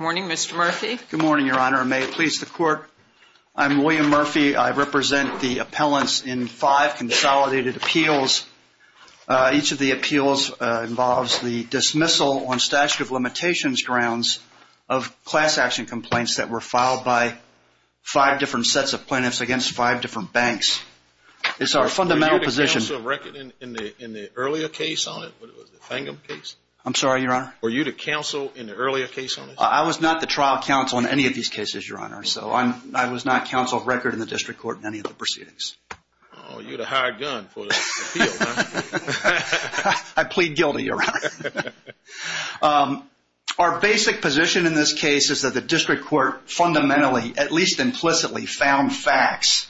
morning mr. Murphy good morning your honor may it please the court I'm William Murphy I represent the appellants in five consolidated appeals each of the appeals involves the dismissal on statute of limitations grounds of class-action complaints that were filed by five different sets of plaintiffs against five different banks it's our fundamental position in the in the earlier case on it I'm sorry your honor were you to counsel in the earlier case I was not the trial counsel in any of these cases your honor so I'm I was not counsel of record in the district court in any of the proceedings I plead guilty your honor our basic position in this case is that the district court fundamentally at least implicitly found facts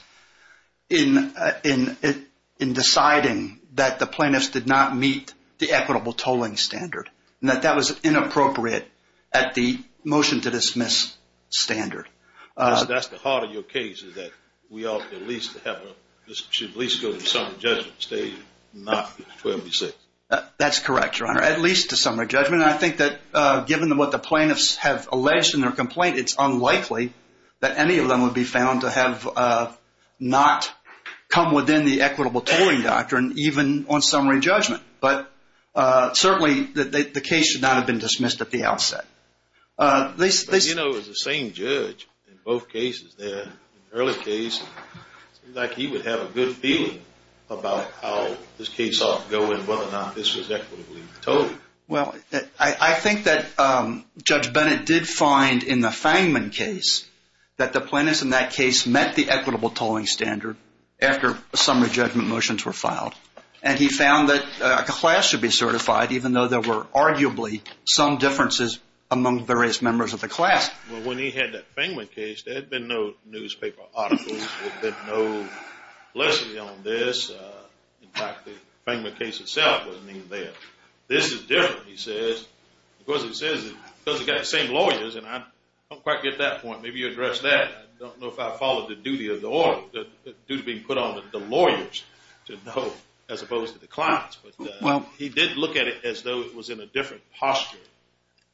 in in it in deciding that the plaintiffs did not meet the equitable tolling standard and that that was inappropriate at the motion to dismiss standard that's the heart of your case is that we ought to at least have this should at least go to some judgment stage not 26 that's correct your honor at least a summary judgment I think that given them what the plaintiffs have alleged in their complaint it's unlikely that any of them would be found to have not come within the equitable tolling doctrine even on summary judgment but certainly that the case should not have been dismissed at the outset this you know is the same judge in both cases there early case like he would have a good feeling about how this case ought to go in whether or not this was equitably told well I think that judge Bennett did find in the Fangman case that the plaintiffs in that case met the equitable tolling standard after a summary judgment motions were filed and he found that a class should be certified even though there were arguably some differences among various members of the class well when he had that thing with case there had been no newspaper articles there's no lesson on this in fact the Fangman case itself wasn't even there this is different he says because it says it doesn't get the same lawyers and I don't quite get that point maybe you address that I don't know if I followed the duty of the order that duty being put on the lawyers to know as opposed to the clients but well he did look at it as though it was in a different posture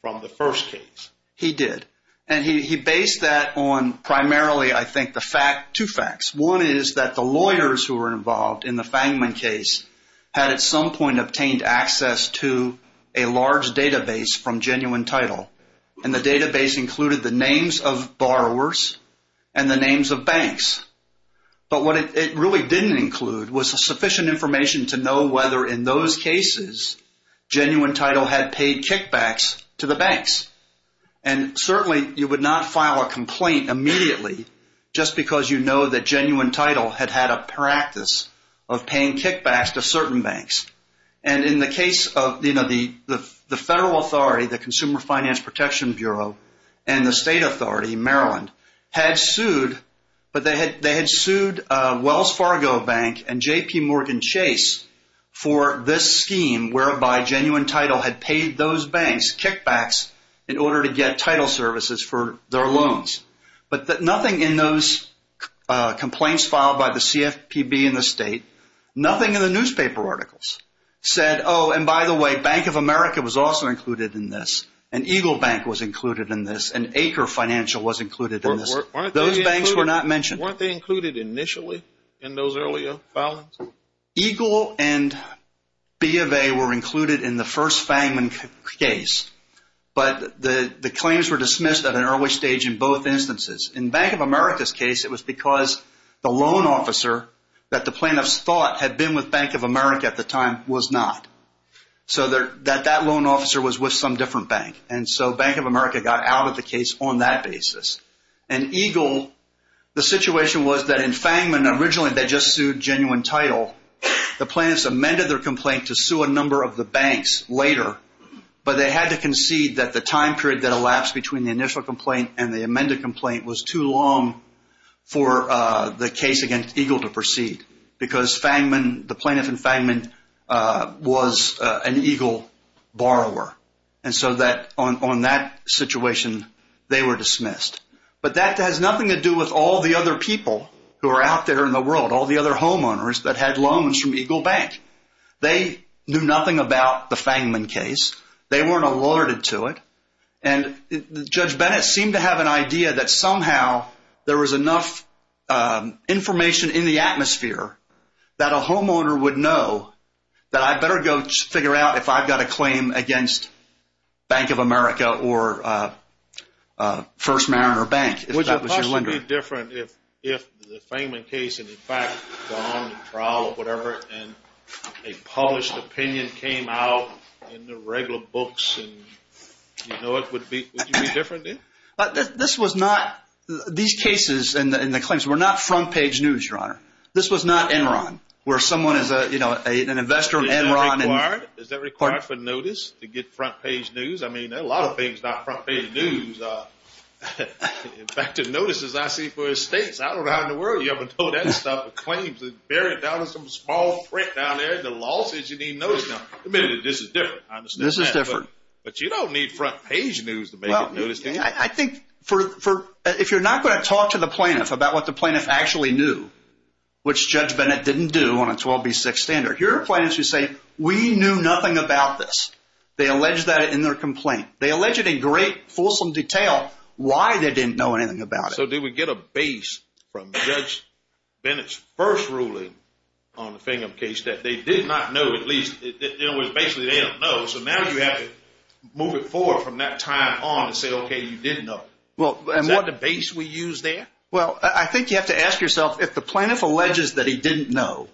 from the first case he did and he based that on primarily I think the fact two facts one is that the lawyers who are involved in the Fangman case had at some point obtained access to a large database from genuine title and the database included the names of borrowers and the names of banks but what it really didn't include was a genuine title had paid kickbacks to the banks and certainly you would not file a complaint immediately just because you know that genuine title had had a practice of paying kickbacks to certain banks and in the case of you know the the federal authority the Consumer Finance Protection Bureau and the state authority Maryland had sued but they had they had sued Wells Fargo Bank and JP Morgan Chase for this scheme whereby genuine title had paid those banks kickbacks in order to get title services for their loans but that nothing in those complaints filed by the CFPB in the state nothing in the newspaper articles said oh and by the way Bank of America was also included in this and Eagle Bank was included in this and acre financial was included in this those banks were not mentioned weren't they included initially in those earlier filings Eagle and B of A were included in the first Fangman case but the the claims were dismissed at an early stage in both instances in Bank of America's case it was because the loan officer that the plaintiffs thought had been with Bank of America at the time was not so there that that loan officer was with some different bank and so Bank of America got out of the case on that basis and Eagle the situation was that in Fangman originally they just sued genuine title the plaintiffs amended their complaint to sue a number of the banks later but they had to concede that the time period that elapsed between the initial complaint and the amended complaint was too long for the case against Eagle to proceed because Fangman the plaintiff in Fangman was an Eagle borrower and so that on that situation they were dismissed but that has nothing to do with all the other people who are out there in the world all the other homeowners that had loans from Eagle Bank they knew nothing about the Fangman case they weren't alerted to it and Judge Bennett seemed to have an idea that somehow there was enough information in the atmosphere that a claim against Bank of America or First Mariner Bank would be different if the Fangman case had gone to trial or whatever and a published opinion came out in the regular books and you know it would be different? This was not these cases and the claims were not front page news your honor this was not Enron where someone is a you know an investor in Enron. Is that required for notice to get front page news? I mean a lot of things are not front page news. In fact the notices I see for estates I don't know how in the world you ever know that stuff. Claims buried down in some small print down there the law says you need notice now. Admittedly this is different. This is different. But you don't need front page news to make it notice. I think for if you're not going to talk to the plaintiff about what the plaintiff actually knew which Judge Bennett didn't do on a 12b6 standard. Here are plaintiffs who say we knew nothing about this. They allege that in their complaint. They alleged in great fulsome detail why they didn't know anything about it. So did we get a base from Judge Bennett's first ruling on the Fingham case that they did not know at least it was basically they don't know so now you have to move it forward from that time on to say okay you didn't know. Is that the base we use there? Well I think you have to ask yourself if the plaintiff alleges that he didn't know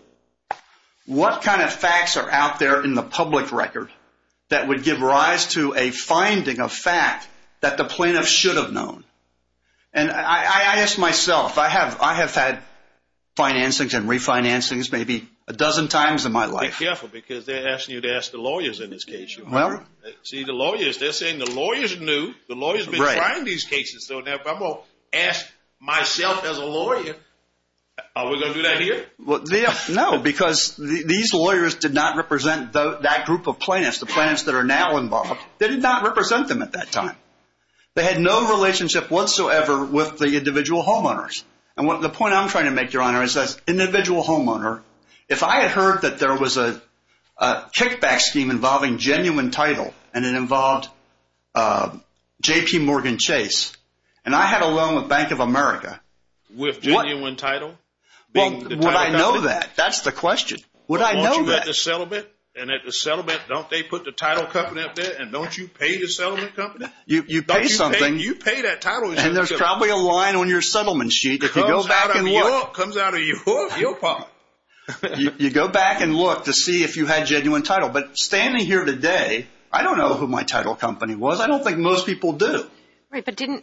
what kind of facts are out there in the public record that would give rise to a finding of fact that the plaintiff should have known. And I asked myself I have I have had financings and refinancings maybe a dozen times in my life. Be careful because they're asking you to ask the lawyers in this case. See the lawyers they're saying the lawyers knew. The lawyers have been trying these cases. So now if I'm going to ask myself as a lawyer are we going to do that here? Well no because these lawyers did not represent that group of plaintiffs. The plaintiffs that are now involved they did not represent them at that time. They had no relationship whatsoever with the individual homeowners. And what the point I'm trying to make your honor is that individual homeowner if I had heard that there was a kickback scheme involving genuine title and it involved JP Morgan Chase and I had a loan with Bank of America. With genuine title? Well would I know that? That's the question. Would I know that? And at the settlement don't they put the title company up there and don't you pay the settlement company? You pay something. You pay that title. And there's probably a line on your settlement sheet if you go back and look. Comes out of your pocket. You go back and look to see if you had genuine title. But standing here today I don't know who my title company was. I didn't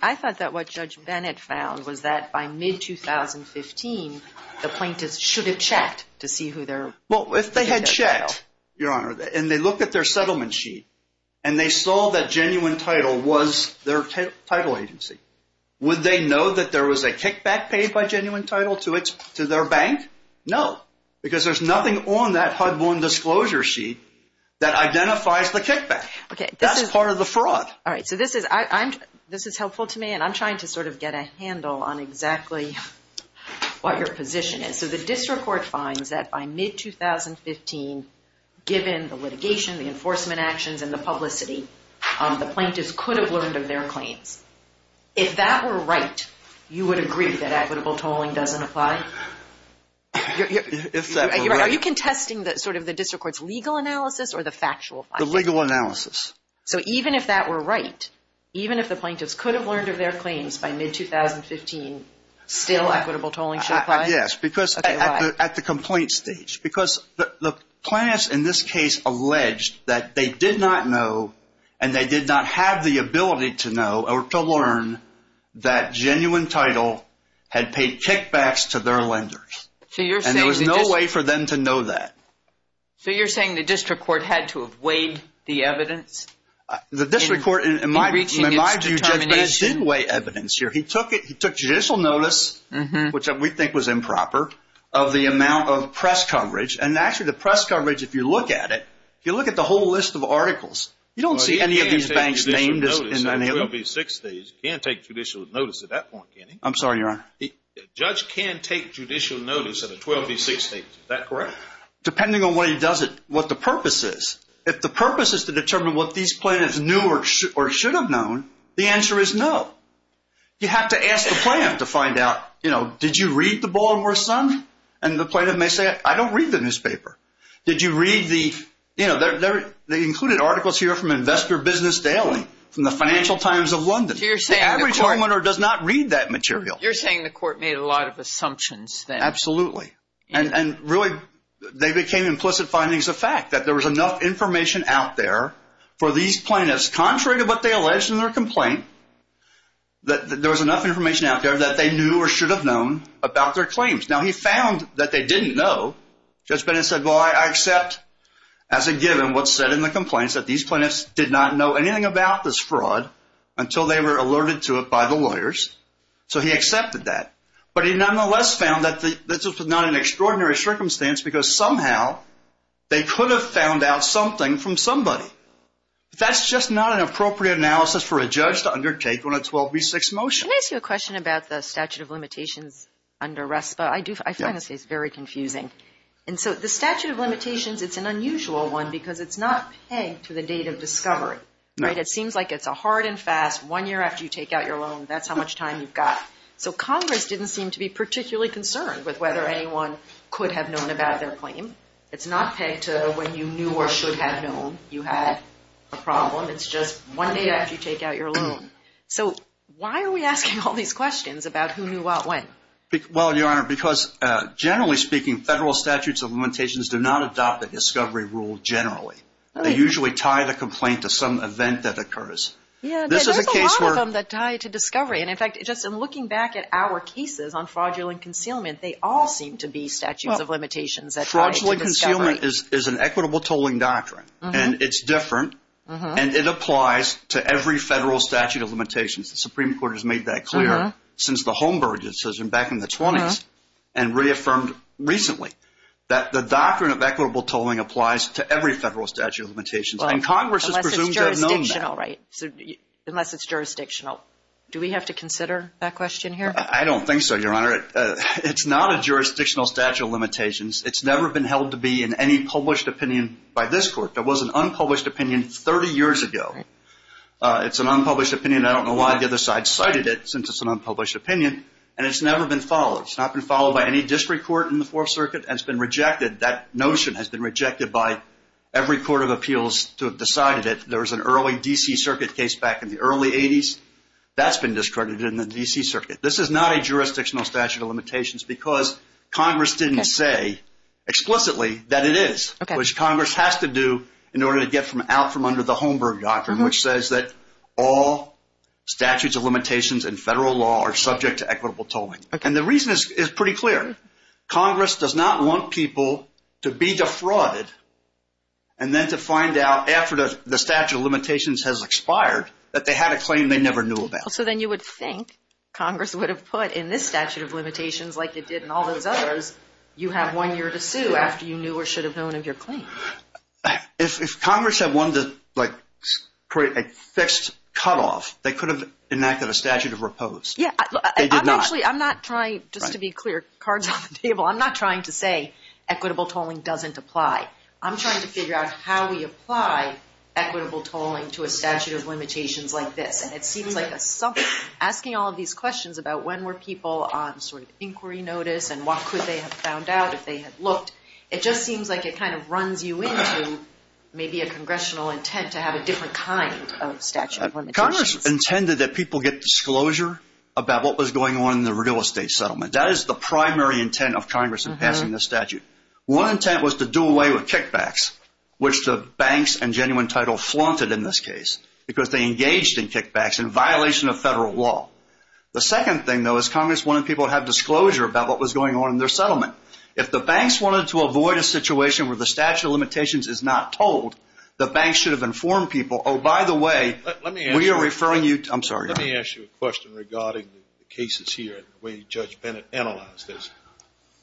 I thought that what Judge Bennett found was that by mid 2015 the plaintiffs should have checked to see who their. Well if they had checked your honor and they looked at their settlement sheet and they saw that genuine title was their title agency. Would they know that there was a kickback paid by genuine title to it to their bank? No. Because there's nothing on that HUD 1 disclosure sheet that identifies the kickback. Okay. That's part of the fraud. All right so this is I'm this is helpful to me and I'm trying to sort of get a handle on exactly what your position is. So the district court finds that by mid 2015 given the litigation the enforcement actions and the publicity the plaintiffs could have learned of their claims. If that were right you would agree that equitable tolling doesn't apply? Are you contesting that sort of the district courts legal analysis or the factual? The legal even if that were right even if the plaintiffs could have learned of their claims by mid 2015 still equitable tolling should apply? Yes because at the complaint stage because the plaintiffs in this case alleged that they did not know and they did not have the ability to know or to learn that genuine title had paid kickbacks to their lenders. So you're saying there was no way for them to know that. So you're saying the district court had to have weighed the district court and in my view Judge Bennett did weigh evidence here. He took it he took judicial notice which we think was improper of the amount of press coverage and actually the press coverage if you look at it you look at the whole list of articles you don't see any of these banks named in any of them. He can't take judicial notice at that point. I'm sorry your honor. The judge can take judicial notice at a 12 v 6 stage. Is that correct? Depending on what he does it what the purpose is. If the purpose is to determine what these plaintiffs knew or should have known the answer is no. You have to ask the plaintiff to find out you know did you read the Baltimore Sun and the plaintiff may say I don't read the newspaper. Did you read the you know they're they included articles here from Investor Business Daily from the Financial Times of London. The average homeowner does not read that material. You're saying the court made a lot of assumptions then. Absolutely and really they became implicit findings of fact that there was enough information out there for these plaintiffs contrary to what they alleged in their complaint that there was enough information out there that they knew or should have known about their claims. Now he found that they didn't know. Judge Bennett said well I accept as a given what's said in the complaints that these plaintiffs did not know anything about this fraud until they were alerted to it by the lawyers. So he accepted that but he nonetheless found that this was not an extraordinary circumstance because somehow they could have found out something from somebody. That's just not an appropriate analysis for a judge to undertake on a 12 v 6 motion. Can I ask you a question about the statute of limitations under RESPA. I do I find this case very confusing and so the statute of limitations it's an unusual one because it's not pegged to the date of discovery. Right it seems like it's a hard and fast one year after you take out your loan that's how much time you've got. So Congress didn't seem to be could have known about their claim. It's not pegged to when you knew or should have known you had a problem. It's just one day after you take out your loan. So why are we asking all these questions about who knew what when? Well your honor because generally speaking federal statutes of limitations do not adopt the discovery rule generally. They usually tie the complaint to some event that occurs. Yeah there's a lot of them that tie to discovery and in fact just in looking back at our cases on fraudulent concealment they all seem to be statutes of limitations. Fraudulent concealment is an equitable tolling doctrine and it's different and it applies to every federal statute of limitations. The Supreme Court has made that clear since the Holmberg decision back in the 20s and reaffirmed recently that the doctrine of equitable tolling applies to every federal statute of limitations and Congress has presumed they've known that. Unless it's jurisdictional. Do we have to consider that question here? I don't think so your honor. It's not a jurisdictional statute of limitations. It's never been held to be in any published opinion by this court. There was an unpublished opinion 30 years ago. It's an unpublished opinion. I don't know why the other side cited it since it's an unpublished opinion and it's never been followed. It's not been followed by any district court in the Fourth Circuit and it's been rejected. That notion has been rejected by every court of appeals to have decided it. There was an early DC Circuit case back in the early 80s. That's been discarded in the DC Circuit. This is not a jurisdictional statute of limitations because Congress didn't say explicitly that it is which Congress has to do in order to get from out from under the Holmberg doctrine which says that all statutes of limitations in federal law are subject to equitable tolling and the reason is pretty clear. Congress does not want people to be defrauded and then to find out after the statute of limitations has expired that they had a claim they never knew about. So then you would think Congress would have put in this statute of limitations like it did in all those others, you have one year to sue after you knew or should have known of your claim. If Congress had wanted to create a fixed cutoff, they could have enacted a statute of repose. Actually I'm not trying, just to be clear, cards on the table, I'm not trying to say equitable tolling doesn't apply. I'm trying to figure out how we apply equitable tolling to a statute of limitations. Asking all of these questions about when were people on sort of inquiry notice and what could they have found out if they had looked, it just seems like it kind of runs you into maybe a congressional intent to have a different kind of statute of limitations. Congress intended that people get disclosure about what was going on in the real estate settlement. That is the primary intent of Congress in passing this statute. One intent was to do away with kickbacks which the banks and Genuine Title flaunted in this case because they engaged in kickbacks in violation of federal law. The second thing though is Congress wanted people to have disclosure about what was going on in their settlement. If the banks wanted to avoid a situation where the statute of limitations is not tolled, the banks should have informed people, oh by the way, we are referring you, I'm sorry. Let me ask you a question regarding the cases here and the way Judge Bennett analyzed this.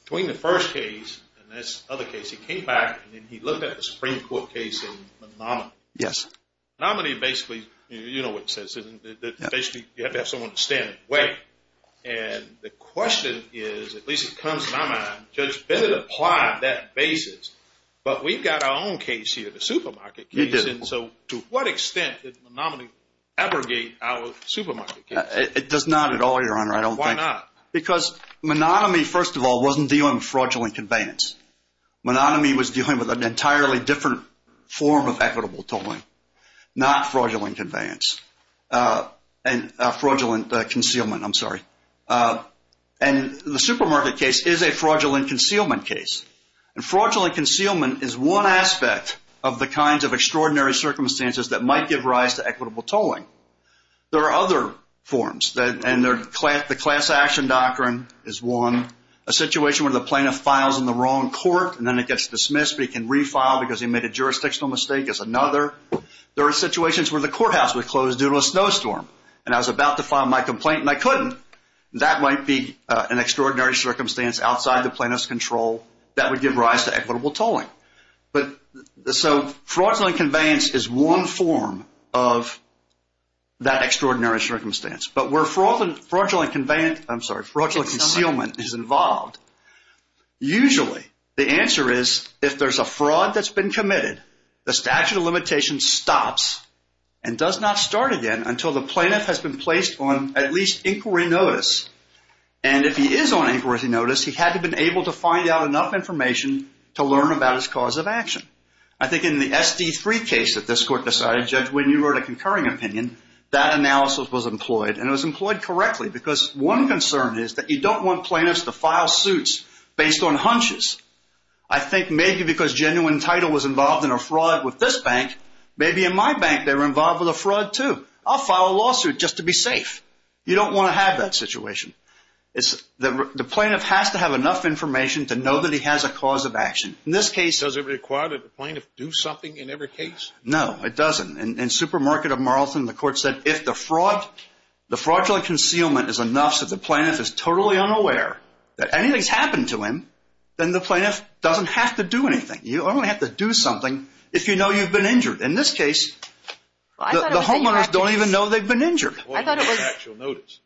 Between the first case and this other case, he came back and he looked at the Supreme Court case in Menominee. Yes. Menominee basically, you know what it basically, you have to have someone to stand in the way. And the question is, at least it comes to my mind, Judge Bennett applied that basis, but we've got our own case here, the supermarket case. So to what extent did Menominee abrogate our supermarket case? It does not at all, Your Honor. I don't think. Why not? Because Menominee, first of all, wasn't dealing with fraudulent conveyance. Menominee was dealing with an fraudulent concealment, I'm sorry. And the supermarket case is a fraudulent concealment case. And fraudulent concealment is one aspect of the kinds of extraordinary circumstances that might give rise to equitable tolling. There are other forms, and the class action doctrine is one. A situation where the plaintiff files in the wrong court and then it gets dismissed, but he can refile because he made a jurisdictional mistake is another. There are situations where the courthouse was closed due to a snowstorm, and I was about to file my complaint and I couldn't. That might be an extraordinary circumstance outside the plaintiff's control that would give rise to equitable tolling. But so fraudulent conveyance is one form of that extraordinary circumstance. But where fraudulent concealment is involved, usually the answer is, if there's a fraud that's been filed, the litigation stops and does not start again until the plaintiff has been placed on at least inquiry notice. And if he is on inquiry notice, he had to have been able to find out enough information to learn about his cause of action. I think in the SD3 case that this court decided, Judge, when you wrote a concurring opinion, that analysis was employed, and it was employed correctly, because one concern is that you don't want plaintiffs to file suits based on hunches. I think maybe because genuine title was involved, maybe in my bank they were involved with a fraud too. I'll file a lawsuit just to be safe. You don't want to have that situation. The plaintiff has to have enough information to know that he has a cause of action. In this case... Does it require that the plaintiff do something in every case? No, it doesn't. In Supermarket of Marlton, the court said if the fraud, the fraudulent concealment is enough so that the plaintiff is totally unaware that anything's happened to him, then the plaintiff doesn't have to do anything. You only have to do something if you know you've been injured. In this case, the homeowners don't even know they've been injured. Or actual notice.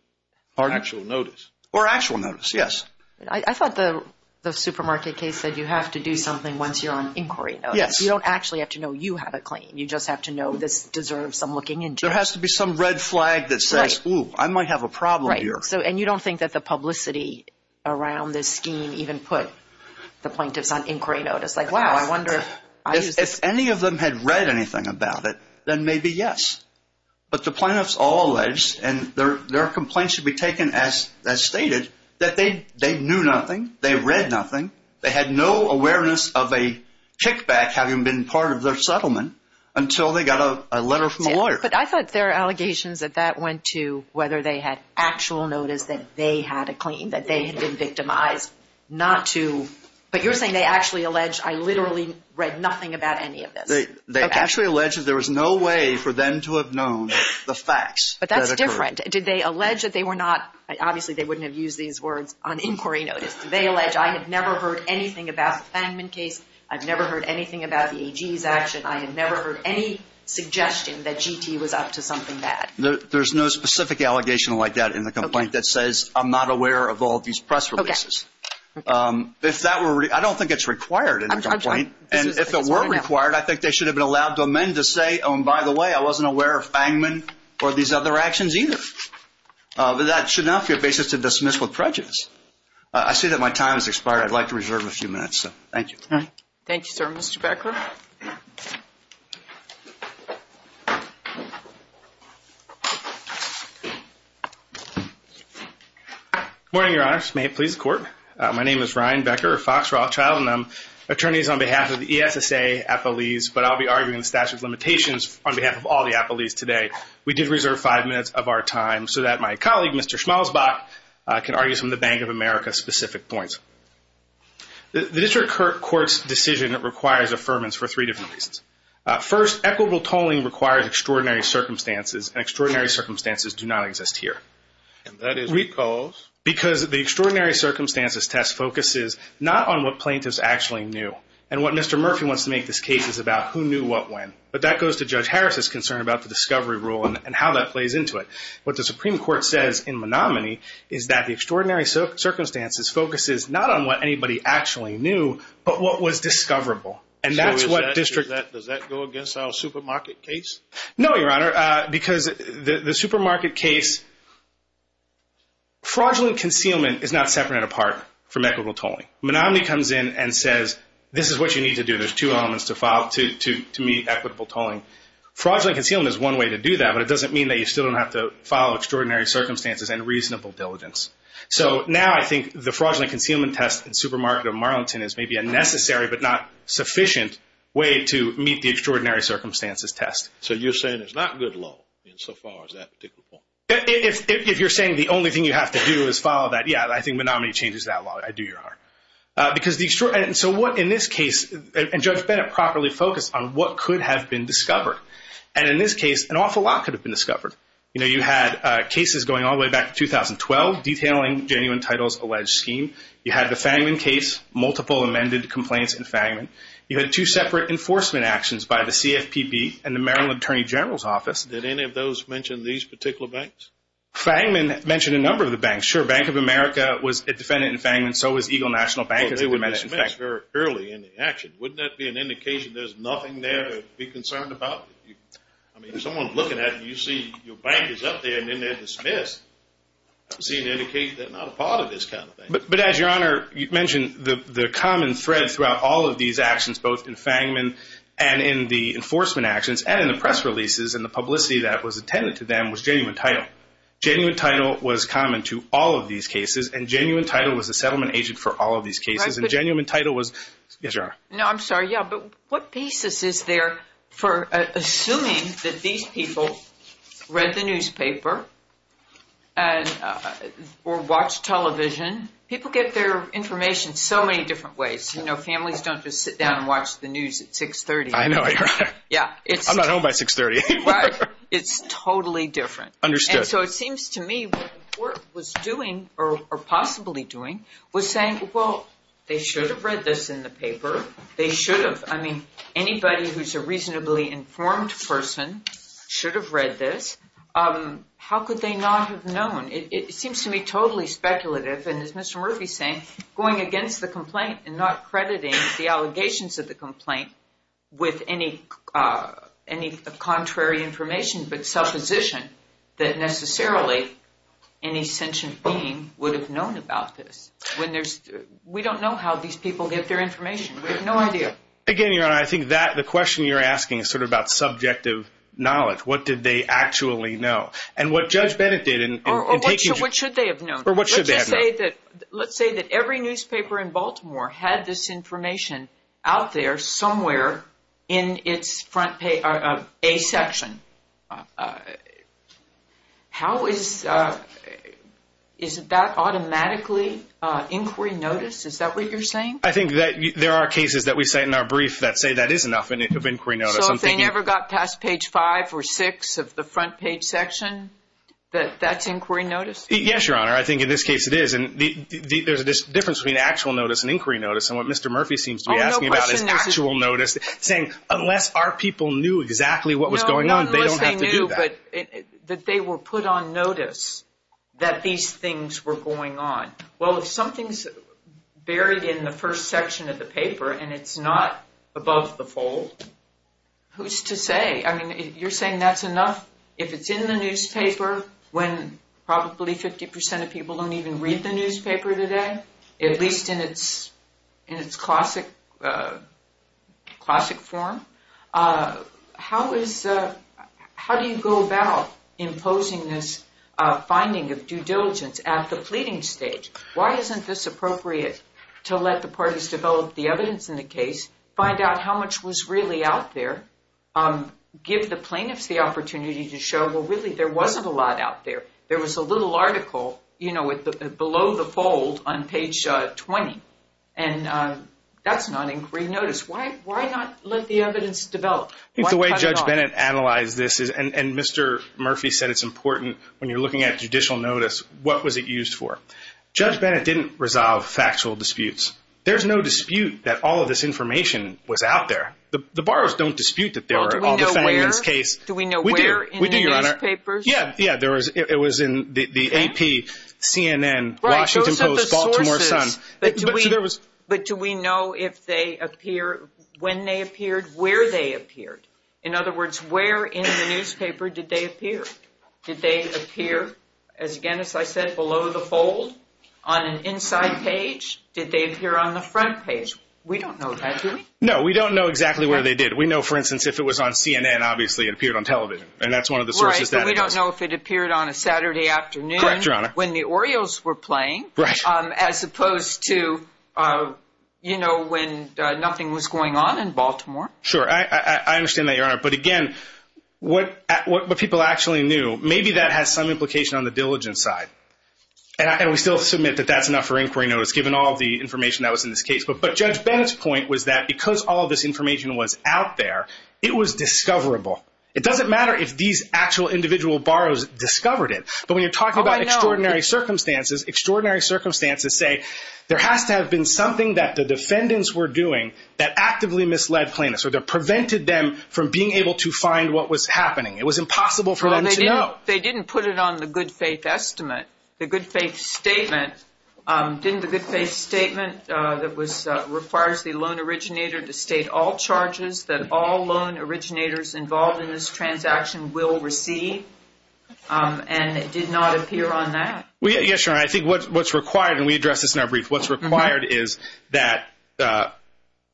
Or actual notice, yes. I thought the supermarket case said you have to do something once you're on inquiry notice. You don't actually have to know you have a claim. You just have to know this deserves some looking into. There has to be some red flag that says, ooh, I might have a problem here. And you don't think that the publicity around this scheme even put the plaintiffs on trial. If any of them had read anything about it, then maybe yes. But the plaintiffs all alleged, and their complaints should be taken as stated, that they knew nothing, they read nothing, they had no awareness of a kickback having been part of their settlement until they got a letter from a lawyer. But I thought there are allegations that that went to whether they had actual notice that they had a claim, that they had been victimized, not to, but you're saying they actually allege, I literally read nothing about any of this. They actually allege that there was no way for them to have known the facts. But that's different. Did they allege that they were not, obviously they wouldn't have used these words on inquiry notice. Did they allege, I have never heard anything about the Fangman case. I've never heard anything about the AG's action. I have never heard any suggestion that GT was up to something bad. There's no specific allegation like that in the complaint that says, I'm not aware of all these press releases. If that were, I don't think it's required in the complaint. And if it were required, I think they should have been allowed to amend to say, oh, and by the way, I wasn't aware of Fangman or these other actions either. But that should not be a basis to dismiss with prejudice. I see that my time has expired. I'd like to reserve a few minutes. Morning, Your Honor. May it please the court. My name is Ryan Becker, a Fox Roth child, and I'm attorneys on behalf of the ESSA, Appalese. But I'll be arguing the statute of limitations on behalf of all the Appalese today. We did reserve five minutes of our time so that my colleague, Mr. Schmalzbach, can argue some of the Bank of America specific points. The district court's decision requires affirmance for three different reasons. First, equitable tolling requires extraordinary circumstances, and extraordinary circumstances do not exist here. And that is because? Because the extraordinary circumstances test focuses not on what plaintiffs actually knew. And what Mr. Murphy wants to make this case is about who knew what when. But that goes to Judge Harris's concern about the discovery rule and how that plays into it. What the Supreme Court says in Menominee is that the extraordinary circumstances focuses not on what anybody actually knew, but what was discoverable. And that's what district... So does that go against our supermarket case? Fraudulent concealment is not separate and apart from equitable tolling. Menominee comes in and says, this is what you need to do. There's two elements to meet equitable tolling. Fraudulent concealment is one way to do that, but it doesn't mean that you still don't have to follow extraordinary circumstances and reasonable diligence. So now I think the fraudulent concealment test in Supermarket or Marlington is maybe a necessary but not sufficient way to meet the extraordinary circumstances test. So you're saying it's not good law insofar as that particular point? If you're saying the only thing you have to do is follow that, yeah, I think Menominee changes that law. I do your heart. Because the extraordinary... And so what in this case... And Judge Bennett properly focused on what could have been discovered. And in this case, an awful lot could have been discovered. You know, you had cases going all the way back to 2012 detailing genuine titles alleged scheme. You had the Fangman case, multiple amended complaints in Fangman. You had two separate enforcement actions by the CFPB and the Maryland Attorney General's Office. Did any of those mention these particular banks? Fangman mentioned a number of the banks. Sure, Bank of America was a defendant in Fangman. So was Eagle National Bank. They were dismissed very early in the action. Wouldn't that be an indication there's nothing there to be concerned about? I mean, someone's looking at you, you see your bank is up there and then they're dismissed. I've seen indications they're not a part of this kind of thing. But as your Honor, you mentioned the of these actions, both in Fangman and in the enforcement actions and in the press releases and the publicity that was attended to them, was genuine title. Genuine title was common to all of these cases and genuine title was a settlement agent for all of these cases. And genuine title was... Yes, Your Honor. No, I'm sorry. Yeah, but what pieces is there for assuming that these people read the newspaper or watch television? People get their information so many different ways. Families don't just sit down and watch the news at 630. I know, Your Honor. I'm not home by 630. It's totally different. Understood. And so it seems to me what the court was doing or possibly doing was saying, well, they should have read this in the paper. They should have. I mean, anybody who's a reasonably informed person should have read this. How could they not have known? It seems to me totally speculative. And as Mr. Murphy is saying, going against the complaint and not crediting the allegations of the complaint with any contrary information but supposition that necessarily any sentient being would have known about this. When there's... we don't know how these people get their information. We have no idea. Again, Your Honor, I think that the question you're asking is sort of about subjective knowledge. What did they actually know? And what Judge Bennett did in taking... Or what should they have known? Let's say that every newspaper in Baltimore had this information out there somewhere in its front page... a section. How is... is that automatically inquiry notice? Is that what you're saying? I think that there are cases that we say in our brief that say that is enough of inquiry notice. So if they never got past page five or six of the front page section, that that's in this case it is. And there's a difference between actual notice and inquiry notice. And what Mr. Murphy seems to be asking about is actual notice, saying unless our people knew exactly what was going on, they don't have to do that. But that they were put on notice that these things were going on. Well, if something's buried in the first section of the paper and it's not above the fold, who's to say? I mean, you're saying that's enough? If it's in the newspaper when probably 50% of people don't even read the newspaper today, at least in its in its classic... classic form, how is... how do you go about imposing this finding of due diligence at the pleading stage? Why isn't this appropriate to let the parties develop the evidence in the case, find out how much was really out there, give the plaintiffs the opportunity to show, well, really there wasn't a lot out there. There was a little article, you know, below the fold on page 20, and that's not inquiry notice. Why... why not let the evidence develop? I think the way Judge Bennett analyzed this is... and Mr. Murphy said it's important when you're looking at judicial notice, what was it used for? Judge Bennett didn't resolve factual disputes. There's no dispute that all of this information was out there. The borrowers don't dispute that there were all defendants' cases. Well, do we know where? We do, Your Honor. Yeah, yeah, there was... it was in the AP, CNN, Washington Post, Baltimore Sun. But do we... but do we know if they appear... when they appeared, where they appeared? In other words, where in the newspaper did they appear? Did they appear, as again, as I said, below the fold on an inside page? Did they appear on the front page? We don't know that, do we? No, we don't know exactly where they did. We know, for that's one of the sources... Right, but we don't know if it appeared on a Saturday afternoon... Correct, Your Honor. ...when the Orioles were playing... Right. ...as opposed to, you know, when nothing was going on in Baltimore. Sure, I understand that, Your Honor. But again, what... what people actually knew, maybe that has some implication on the diligence side. And we still submit that that's enough for inquiry notice, given all the information that was in this case. But... but Judge Bennett's point was that because all this information was out there, it was discoverable. It doesn't matter if these actual individual borrowers discovered it. But when you're talking about extraordinary circumstances, extraordinary circumstances say there has to have been something that the defendants were doing that actively misled plaintiffs, or that prevented them from being able to find what was happening. It was impossible for them to know. They didn't put it on the good-faith estimate. The good-faith statement... didn't the good-faith statement that was... requires the loan originator to state all charges that all loan originators involved in this transaction will receive? And it did not appear on that. Well, yes, Your Honor. I think what's... what's required, and we address this in our brief, what's required is that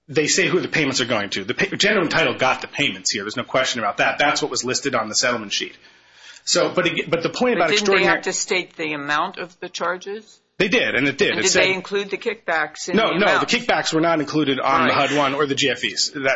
they say who the payments are going to. The general title got the payments here. There's no question about that. That's what was listed on the settlement sheet. So, but again... but the point about extraordinary... Didn't they have to state the amount of the charges? They did, and it did. And did they include the kickbacks in the amount? No, no. The kickbacks were not included on the HUD-1 or the HUD-2.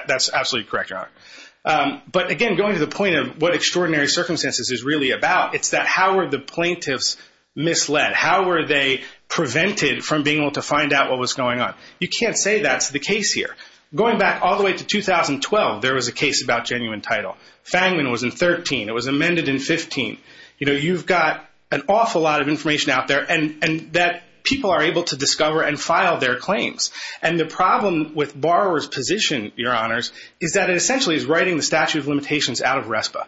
But again, going to the point of what extraordinary circumstances is really about, it's that how were the plaintiffs misled? How were they prevented from being able to find out what was going on? You can't say that's the case here. Going back all the way to 2012, there was a case about genuine title. Fangman was in 13. It was amended in 15. You know, you've got an awful lot of information out there and... and that people are able to discover and file their claims. And the court is writing the statute of limitations out of RESPA.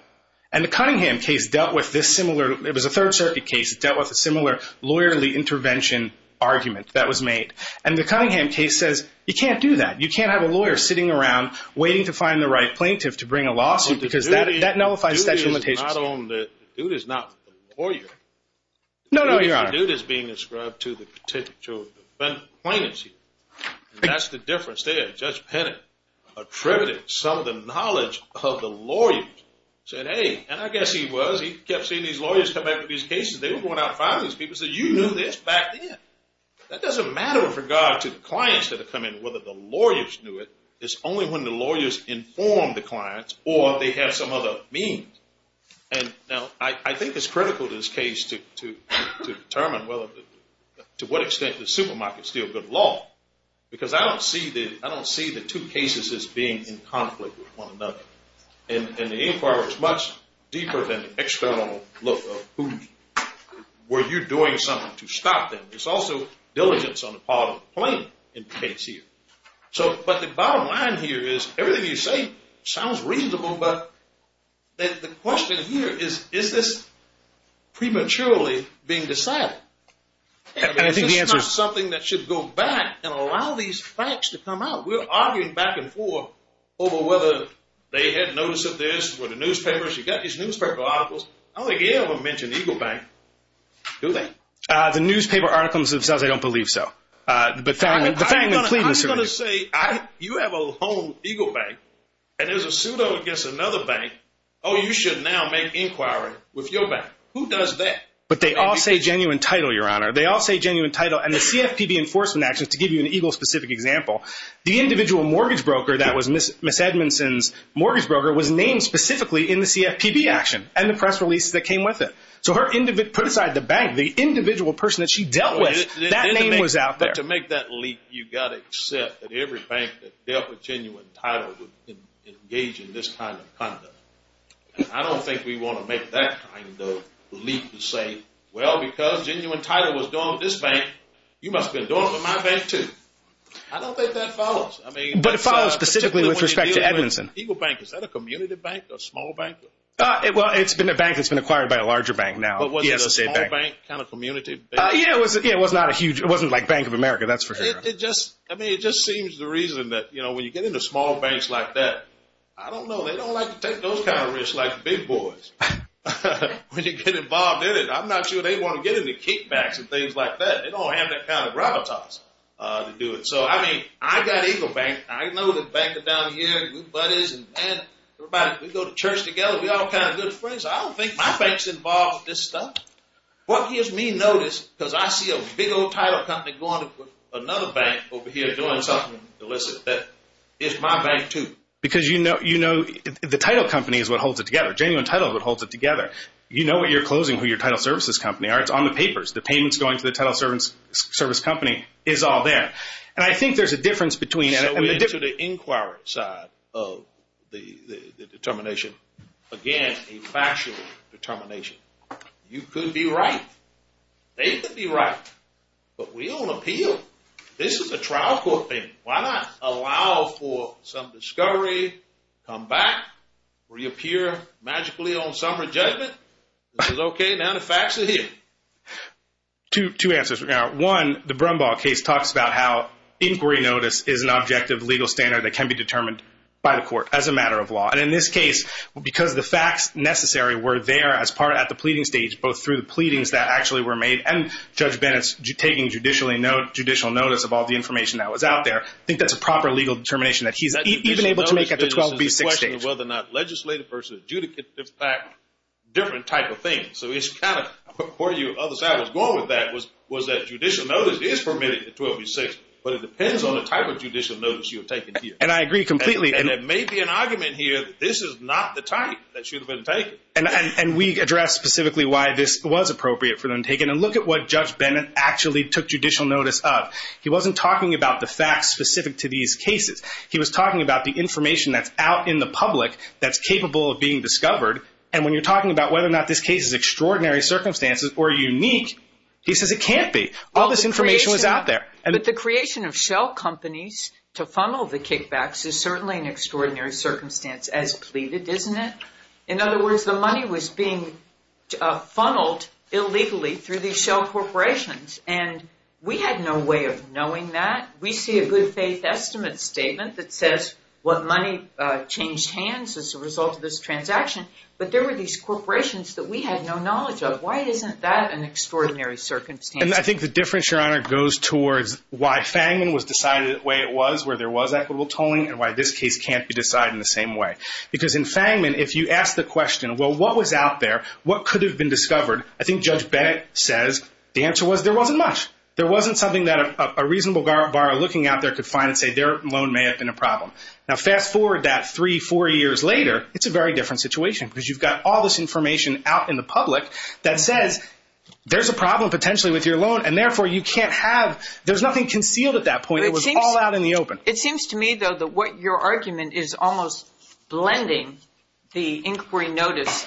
And the Cunningham case dealt with this similar... it was a Third Circuit case. It dealt with a similar lawyerly intervention argument that was made. And the Cunningham case says, you can't do that. You can't have a lawyer sitting around waiting to find the right plaintiff to bring a lawsuit because that nullifies statute of limitations. The dude is not a lawyer. No, no, your honor. The dude is being inscribed to the particular plaintiff. That's the difference there. Judge Penning attributed some of the knowledge of the lawyers. Said, hey, and I guess he was. He kept seeing these lawyers come back to these cases. They were going out and finding these people. He said, you knew this back then. That doesn't matter with regard to the clients that have come in. Whether the lawyers knew it, it's only when the lawyers inform the clients or they have some other means. And now, I think it's critical to this case to... to determine whether... to what extent the supermarket is still good law. Because I don't see the... I don't see the two cases as being in conflict with one another. And the inquiry is much deeper than the external look of who... were you doing something to stop them? It's also diligence on the part of the plaintiff in the case here. So, but the bottom line here is, everything you say sounds reasonable, but the question here is, is this prematurely being decided? And I think the answer... This is not something that should go back and allow these facts to come out. We're arguing back and forth over whether they had notice of this, where the newspapers... You've got these newspaper articles. I don't think any of them mention Eagle Bank, do they? The newspaper articles themselves, I don't believe so. But the fact... I'm going to say, you have a loan with Eagle Bank, and there's a pseudo against another bank. Oh, you should now make inquiry with your bank. Who does that? But they all say genuine title, Your Honor. They all say genuine title. And the CFPB enforcement actions, to give you an Eagle specific example, the individual mortgage broker that was Miss Edmondson's mortgage broker was named specifically in the CFPB action, and the press release that came with it. So her... put aside the bank, the individual person that she dealt with, that name was out there. To make that leap, you've got to accept that every bank that dealt with genuine title would engage in this kind of conduct. I don't think we want to make that kind of leap and say, well, because genuine title was done with this bank, you must have been doing it with my bank too. I don't think that follows. I mean... But it follows specifically with respect to Edmondson. Eagle Bank, is that a community bank or a small bank? Well, it's been a bank that's been acquired by a larger bank now. But was it a small bank kind of community? Yeah, it was not a huge... It wasn't like Bank of America, that's for sure. It just... I mean, it just seems the reason that, you know, when you get into small banks like that, I don't know, they don't like to take those kind of risks like the big boys. When you get involved in it, I'm not sure they want to get into kickbacks and things like that. They don't have that kind of repertoise to do it. So, I mean, I got Eagle Bank. I know the banker down here, good buddies and everybody. We go to church together. We're all kind of good friends. I don't think my bank's involved with this stuff. What gives me notice, because I see a big old title company going to another bank over here doing something illicit, that is my bank too. Because you know, you know, the title company is what holds it together, genuine title that holds it together. You know what you're closing, who your title services company are. It's on the papers, the payments going to the title service company is all there. And I think there's a difference between... So we're into the inquiry side of the determination. Again, a factual determination. You could be right. They could be right. But we don't appeal. This is a trial court thing. Why not allow for some discovery, come back, reappear magically on summary judgment. This is okay. Now the facts are here. Two answers. One, the Brumbaugh case talks about how inquiry notice is an objective legal standard that can be determined by the court as a matter of law. And in this case, because the facts necessary were there as part at the pleading stage, both through the pleadings that actually were made and Judge Bennett's taking judicial notice of all the information that was out there, I think that's a proper legal determination that he's even able to make at the 12B6 stage. Whether or not legislative versus adjudicative fact, different type of thing. So it's kind of where you other side was going with that was that judicial notice is permitted at 12B6, but it depends on the type of judicial notice you're taking here. And I agree completely. And it may be an argument here that this is not the type that should have been taken. And we address specifically why this was appropriate for them to take it. And look at what Judge Bennett actually took judicial notice of. He wasn't talking about the facts specific to these cases. He was talking about the information that's out in the public that's capable of being discovered. And when you're talking about whether or not this case is extraordinary circumstances or unique, he says it can't be. All this information was out there. But the creation of shell companies to funnel the kickbacks is certainly an extraordinary circumstance as pleaded, isn't it? In other words, the money was being funneled illegally through these shell corporations. And we had no way of knowing that. We see a good faith estimate statement that says what money changed hands as a result of this transaction. But there were these corporations that we had no knowledge of. Why isn't that an extraordinary circumstance? And I think the difference, Your Honor, goes towards why Fangman was decided the way it was, where there was equitable tolling, and why this case can't be decided in the same way. Because in Fangman, if you ask the question, well, what was out there? What could have been discovered? I think Judge Bennett says the answer was there wasn't much. There wasn't something that a reasonable borrower looking out there could find and say their loan may have been a problem. Now fast forward that three, four years later, it's a very different situation because you've got all this information out in the public that says there's a problem potentially with your loan and therefore you can't have, there's nothing concealed at that point. It was all out in the open. It seems to me, though, that what your argument is almost blending the inquiry notice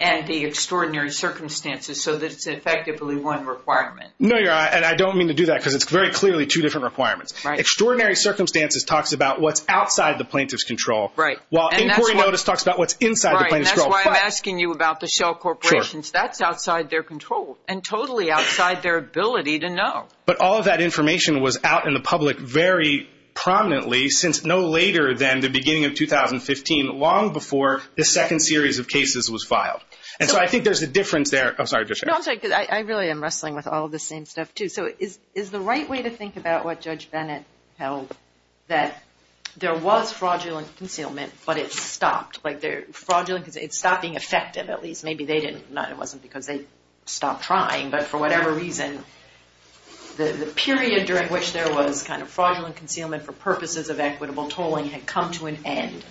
and the extraordinary circumstances so that it's effectively one requirement. No, Your Honor, and I don't mean to do that because it's very clearly two different requirements. Extraordinary circumstances talks about what's outside the plaintiff's control. Right. While inquiry notice talks about what's inside the plaintiff's control. Right, and that's why I'm asking you about the Shell corporations. That's outside their control and totally outside their ability to know. But all of that information was out in the public very prominently since no later than the beginning of 2015, long before the second series of cases was filed. And so I think there's a difference there. I'm sorry, Judge Sherry. No, I'm sorry, because I really am wrestling with all of the same stuff, too. So is the right way to think about what Judge Bennett held, that there was fraudulent concealment, but it stopped? Like fraudulent, it stopped being effective at least. Maybe they didn't, it wasn't because they stopped trying. But for whatever reason, the period during which there was kind of fraudulent concealment for purposes of equitable tolling had come to an end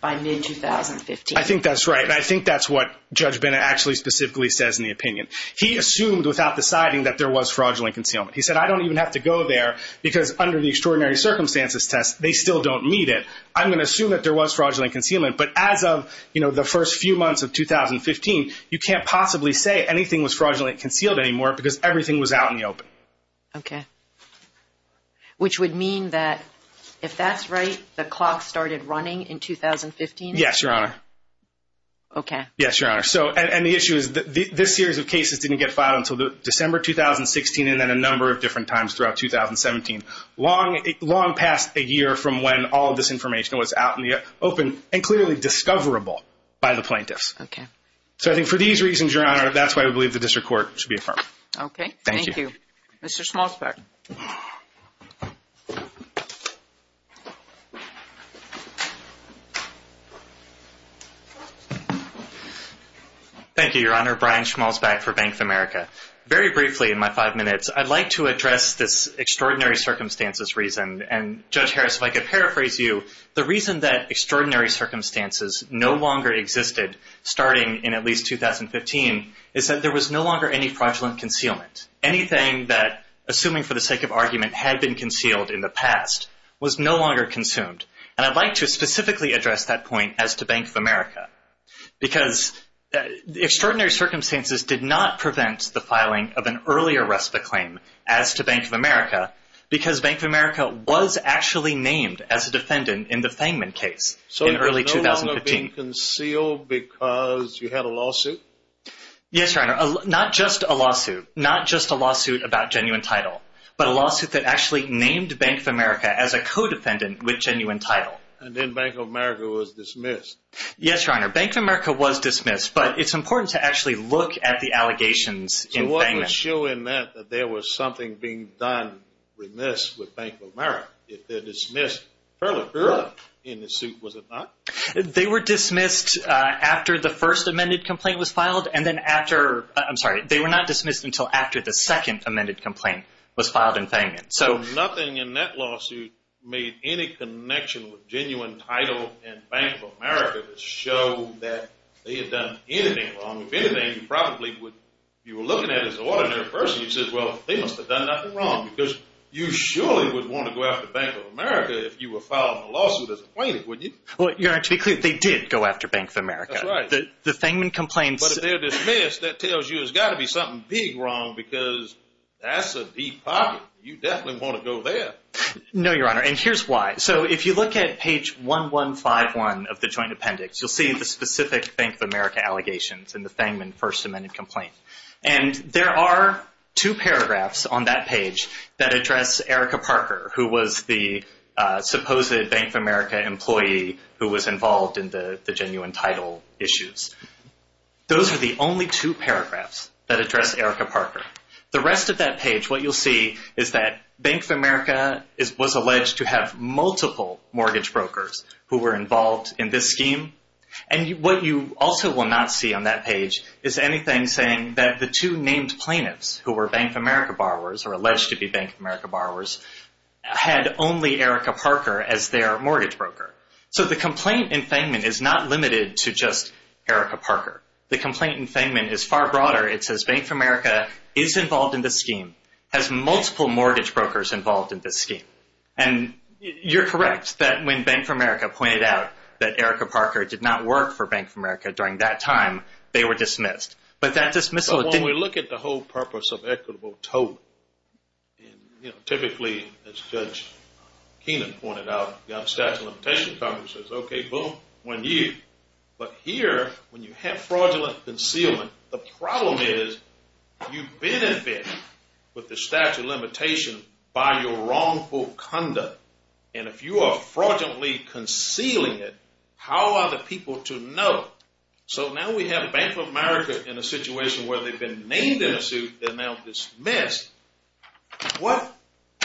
by mid-2015. I think that's right. And I think that's what Judge Bennett actually specifically says in the opinion. He assumed without deciding that there was fraudulent concealment. He said, I don't even have to go there because under the extraordinary circumstances test, they still don't meet it. I'm going to assume that there was fraudulent concealment. But as of the first few months of 2015, you can't possibly say anything was fraudulently concealed anymore because everything was out in the open. OK. Which would mean that if that's right, the clock started running in 2015? Yes, Your Honor. OK. Yes, Your Honor. So and the issue is that this series of cases didn't get filed until December 2016 and then a number of different times throughout 2017. Long past a year from when all of this information was out in the open. And clearly discoverable by the plaintiffs. OK. So I think for these reasons, Your Honor, that's why we believe the district court should be affirmed. OK. Thank you. Mr. Schmalzbeck. Thank you, Your Honor. Brian Schmalzbeck for Bank of America. Very briefly in my five minutes, I'd like to address this extraordinary circumstances reason. And Judge Harris, if I could paraphrase you, the reason that extraordinary circumstances no longer existed starting in at least 2015 is that there was no longer any fraudulent concealment. Anything that, assuming for the sake of argument, had been concealed in the past was no longer consumed. And I'd like to specifically address that point as to Bank of America. Because the extraordinary circumstances did not prevent the filing of an earlier rest of the claim as to Bank of America because Bank of America was actually named as a defendant in the Fangman case. So it was no longer being concealed because you had a lawsuit? Yes, Your Honor. Not just a lawsuit. Not just a lawsuit about genuine title, but a lawsuit that actually named Bank of America as a co-defendant with genuine title. And then Bank of America was dismissed. Yes, Your Honor. Bank of America was dismissed. But it's important to actually look at the allegations in Fangman. You weren't showing that there was something being done remiss with Bank of America. If they're dismissed early in the suit, was it not? They were dismissed after the first amended complaint was filed. And then after, I'm sorry, they were not dismissed until after the second amended complaint was filed in Fangman. So nothing in that lawsuit made any connection with genuine title and Bank of America to show that they had done anything wrong. If anything, you probably would, you were looking at it as an ordinary person, you'd say, well, they must have done nothing wrong. Because you surely would want to go after Bank of America if you were filing a lawsuit as a plaintiff, wouldn't you? Well, Your Honor, to be clear, they did go after Bank of America. That's right. The Fangman complaints... But if they're dismissed, that tells you there's got to be something big wrong because that's a deep pocket. You definitely want to go there. No, Your Honor. And here's why. So if you look at page 1151 of the joint appendix, you'll see the specific Bank of America allegations in the Fangman first amended complaint. And there are two paragraphs on that page that address Erica Parker, who was the supposed Bank of America employee who was involved in the genuine title issues. Those are the only two paragraphs that address Erica Parker. The rest of that page, what you'll see is that Bank of America was alleged to have multiple mortgage brokers who were involved in this scheme. And what you also will not see on that page is anything saying that the two named plaintiffs who were Bank of America borrowers or alleged to be Bank of America borrowers had only Erica Parker as their mortgage broker. So the complaint in Fangman is not limited to just Erica Parker. The complaint in Fangman is far broader. It says Bank of America is involved in the scheme, has multiple mortgage brokers involved in this scheme. And you're correct that when Bank of America pointed out that Erica Parker did not work for Bank of America during that time, they were dismissed. But that dismissal didn't- When we look at the whole purpose of equitable total, typically, as Judge Keenan pointed out, the Unstatuted Limitation Congress says, OK, boom, one year. But here, when you have fraudulent concealment, the problem is you benefit with the statute of limitation by your wrongful conduct. And if you are fraudulently concealing it, how are the people to know? So now we have Bank of America in a situation where they've been named in a suit, they're now dismissed. What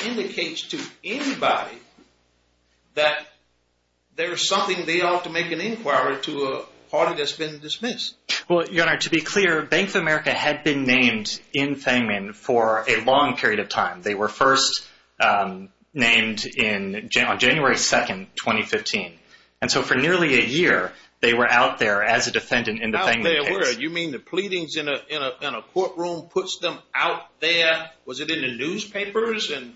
indicates to anybody that there is something they ought to make an inquiry to a party that's been dismissed? Well, your honor, to be clear, Bank of America had been named in Fangman for a long period of time. They were first named on January 2nd, 2015. And so for nearly a year, they were out there as a defendant in the Fangman case. You mean the pleadings in a courtroom puts them out there? Was it in the newspapers? And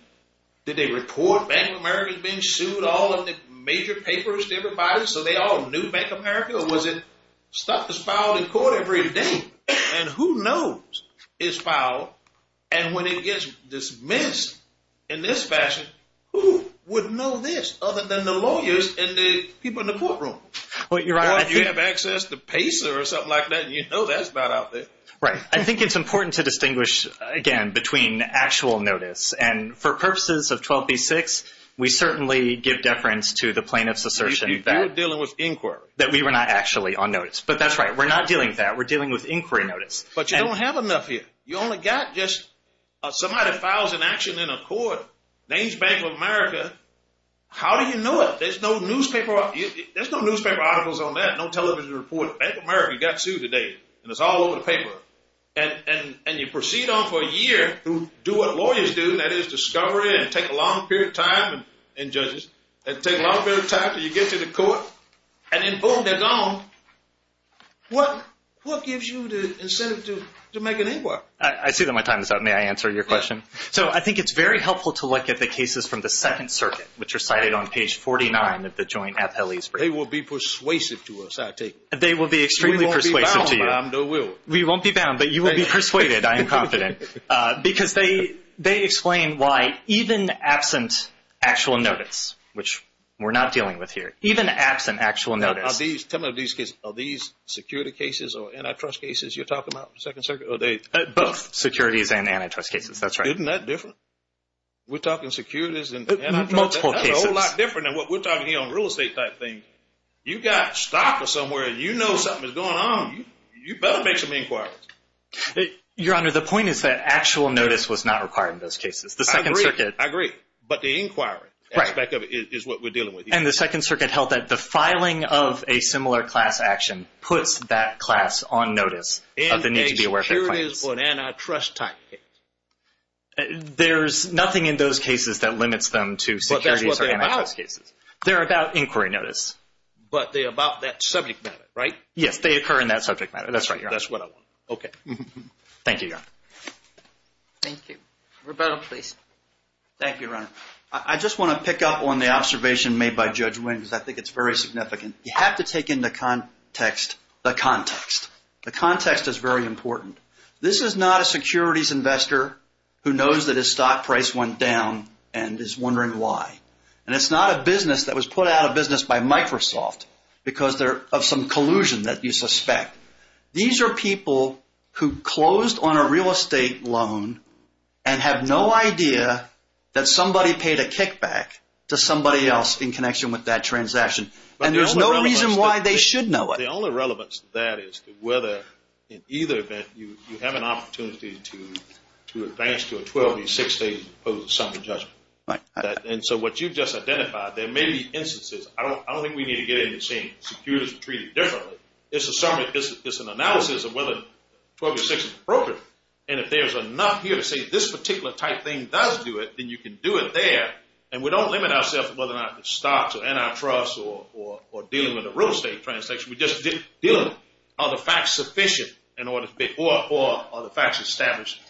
did they report Bank of America being sued all of the major papers to everybody so they all knew Bank of America? Or was it stuff that's filed in court every day? And who knows it's filed? And when it gets dismissed in this fashion, who would know this other than the lawyers and the people in the courtroom? Well, you have access to PACER or something like that, and you know that's about out there. Right. I think it's important to distinguish, again, between actual notice and for purposes of 12b-6, we certainly give deference to the plaintiff's assertion that we were not actually on notice. But that's right. We're not dealing with that. We're dealing with inquiry notice. But you don't have enough here. You only got just somebody files an action in a court, names Bank of America. How do you know it? There's no newspaper articles on that, no television report. Bank of America got sued today, and it's all over the paper. And you proceed on for a year to do what lawyers do, and that is discovery and take a long period of time. And judges take a long period of time until you get to the court. And then boom, they're gone. What gives you the incentive to make an inquiry? I see that my time is up. May I answer your question? So I think it's very helpful to look at the cases from the Second Circuit, which are cited on page 49 of the joint appellees brief. They will be persuasive to us, I take it. They will be extremely persuasive to you. We won't be bound, but I'm not willing. We won't be bound, but you will be persuaded, I am confident. Because they explain why even absent actual notice, which we're not dealing with here, even absent actual notice. Tell me about these cases. Are these security cases or antitrust cases you're talking about in the Second Circuit? Or are they... Both securities and antitrust cases. Isn't that different? We're talking securities and antitrust cases. Multiple cases. That's a whole lot different than what we're talking here on real estate type things. You've got stock or somewhere, and you know something is going on. You better make some inquiries. Your Honor, the point is that actual notice was not required in those cases. The Second Circuit... I agree. But the inquiry aspect of it is what we're dealing with here. And the Second Circuit held that the filing of a similar class action puts that class on notice of the need to be aware of their claims. What about inquiries or antitrust type cases? There's nothing in those cases that limits them to securities or antitrust cases. But that's what they're about. They're about inquiry notice. But they're about that subject matter, right? Yes, they occur in that subject matter. That's right, Your Honor. That's what I want. Okay. Thank you, Your Honor. Thank you. Roberto, please. Thank you, Your Honor. I just want to pick up on the observation made by Judge Wynn, because I think it's very significant. You have to take into context the context. The context is very important. This is not a securities investor who knows that his stock price went down and is wondering why. And it's not a business that was put out of business by Microsoft because of some collusion that you suspect. These are people who closed on a real estate loan and have no idea that somebody paid a kickback to somebody else in connection with that transaction. And there's no reason why they should know it. The only relevance to that is whether, in either event, you have an opportunity to advance to a 12 or 16, as opposed to some judgment. And so what you just identified, there may be instances. I don't think we need to get into saying securities are treated differently. It's an analysis of whether 12 or 16 is appropriate. And if there's enough here to say this particular type thing does do it, then you can do it there. And we don't limit ourselves to whether or not the stocks or antitrust or dealing with a real estate transaction. We just deal with it. Are the facts sufficient or are the facts established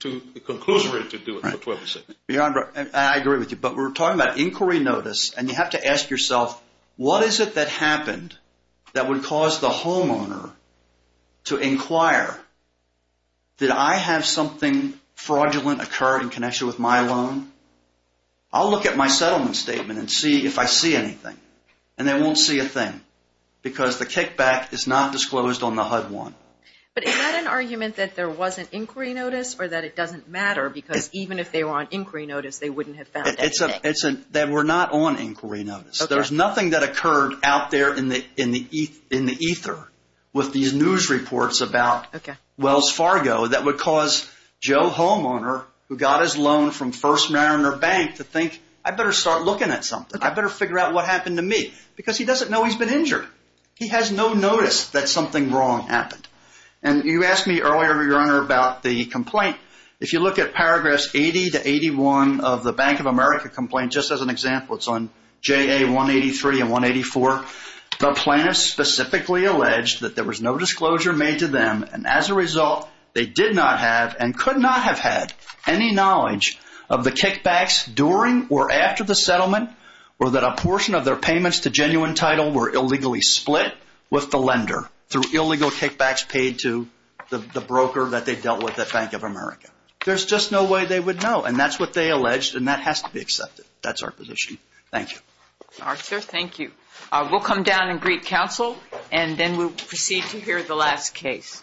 to the conclusion ready to do it for 12 or 16? I agree with you. But we're talking about inquiry notice, and you have to ask yourself, what is it that happened that would cause the homeowner to inquire, did I have something fraudulent occur in connection with my loan? I'll look at my settlement statement and see if I see anything. And they won't see a thing because the kickback is not disclosed on the HUD-1. But is that an argument that there was an inquiry notice or that it doesn't matter because even if they were on inquiry notice, they wouldn't have found anything? It's that we're not on inquiry notice. There's nothing that occurred out there in the ether with these news reports about Wells Fargo that would cause Joe Homeowner, who got his loan from First Mariner Bank, to think, I better start looking at something. I better figure out what happened to me because he doesn't know he's been injured. He has no notice that something wrong happened. And you asked me earlier, Your Honor, about the complaint. If you look at paragraphs 80 to 81 of the Bank of America complaint, just as an example, it's on JA 183 and 184, the plaintiff specifically alleged that there was no disclosure made to them and as a result, they did not have and could not have had any knowledge of the kickbacks during or after the settlement or that a portion of their payments to genuine title were illegally split with the lender through illegal kickbacks paid to the broker that they dealt with at Bank of America. There's just no way they would know and that's what they alleged and that has to be accepted. That's our position. Thank you. All right, sir. Thank you. We'll come down and greet counsel and then we'll proceed to hear the last case.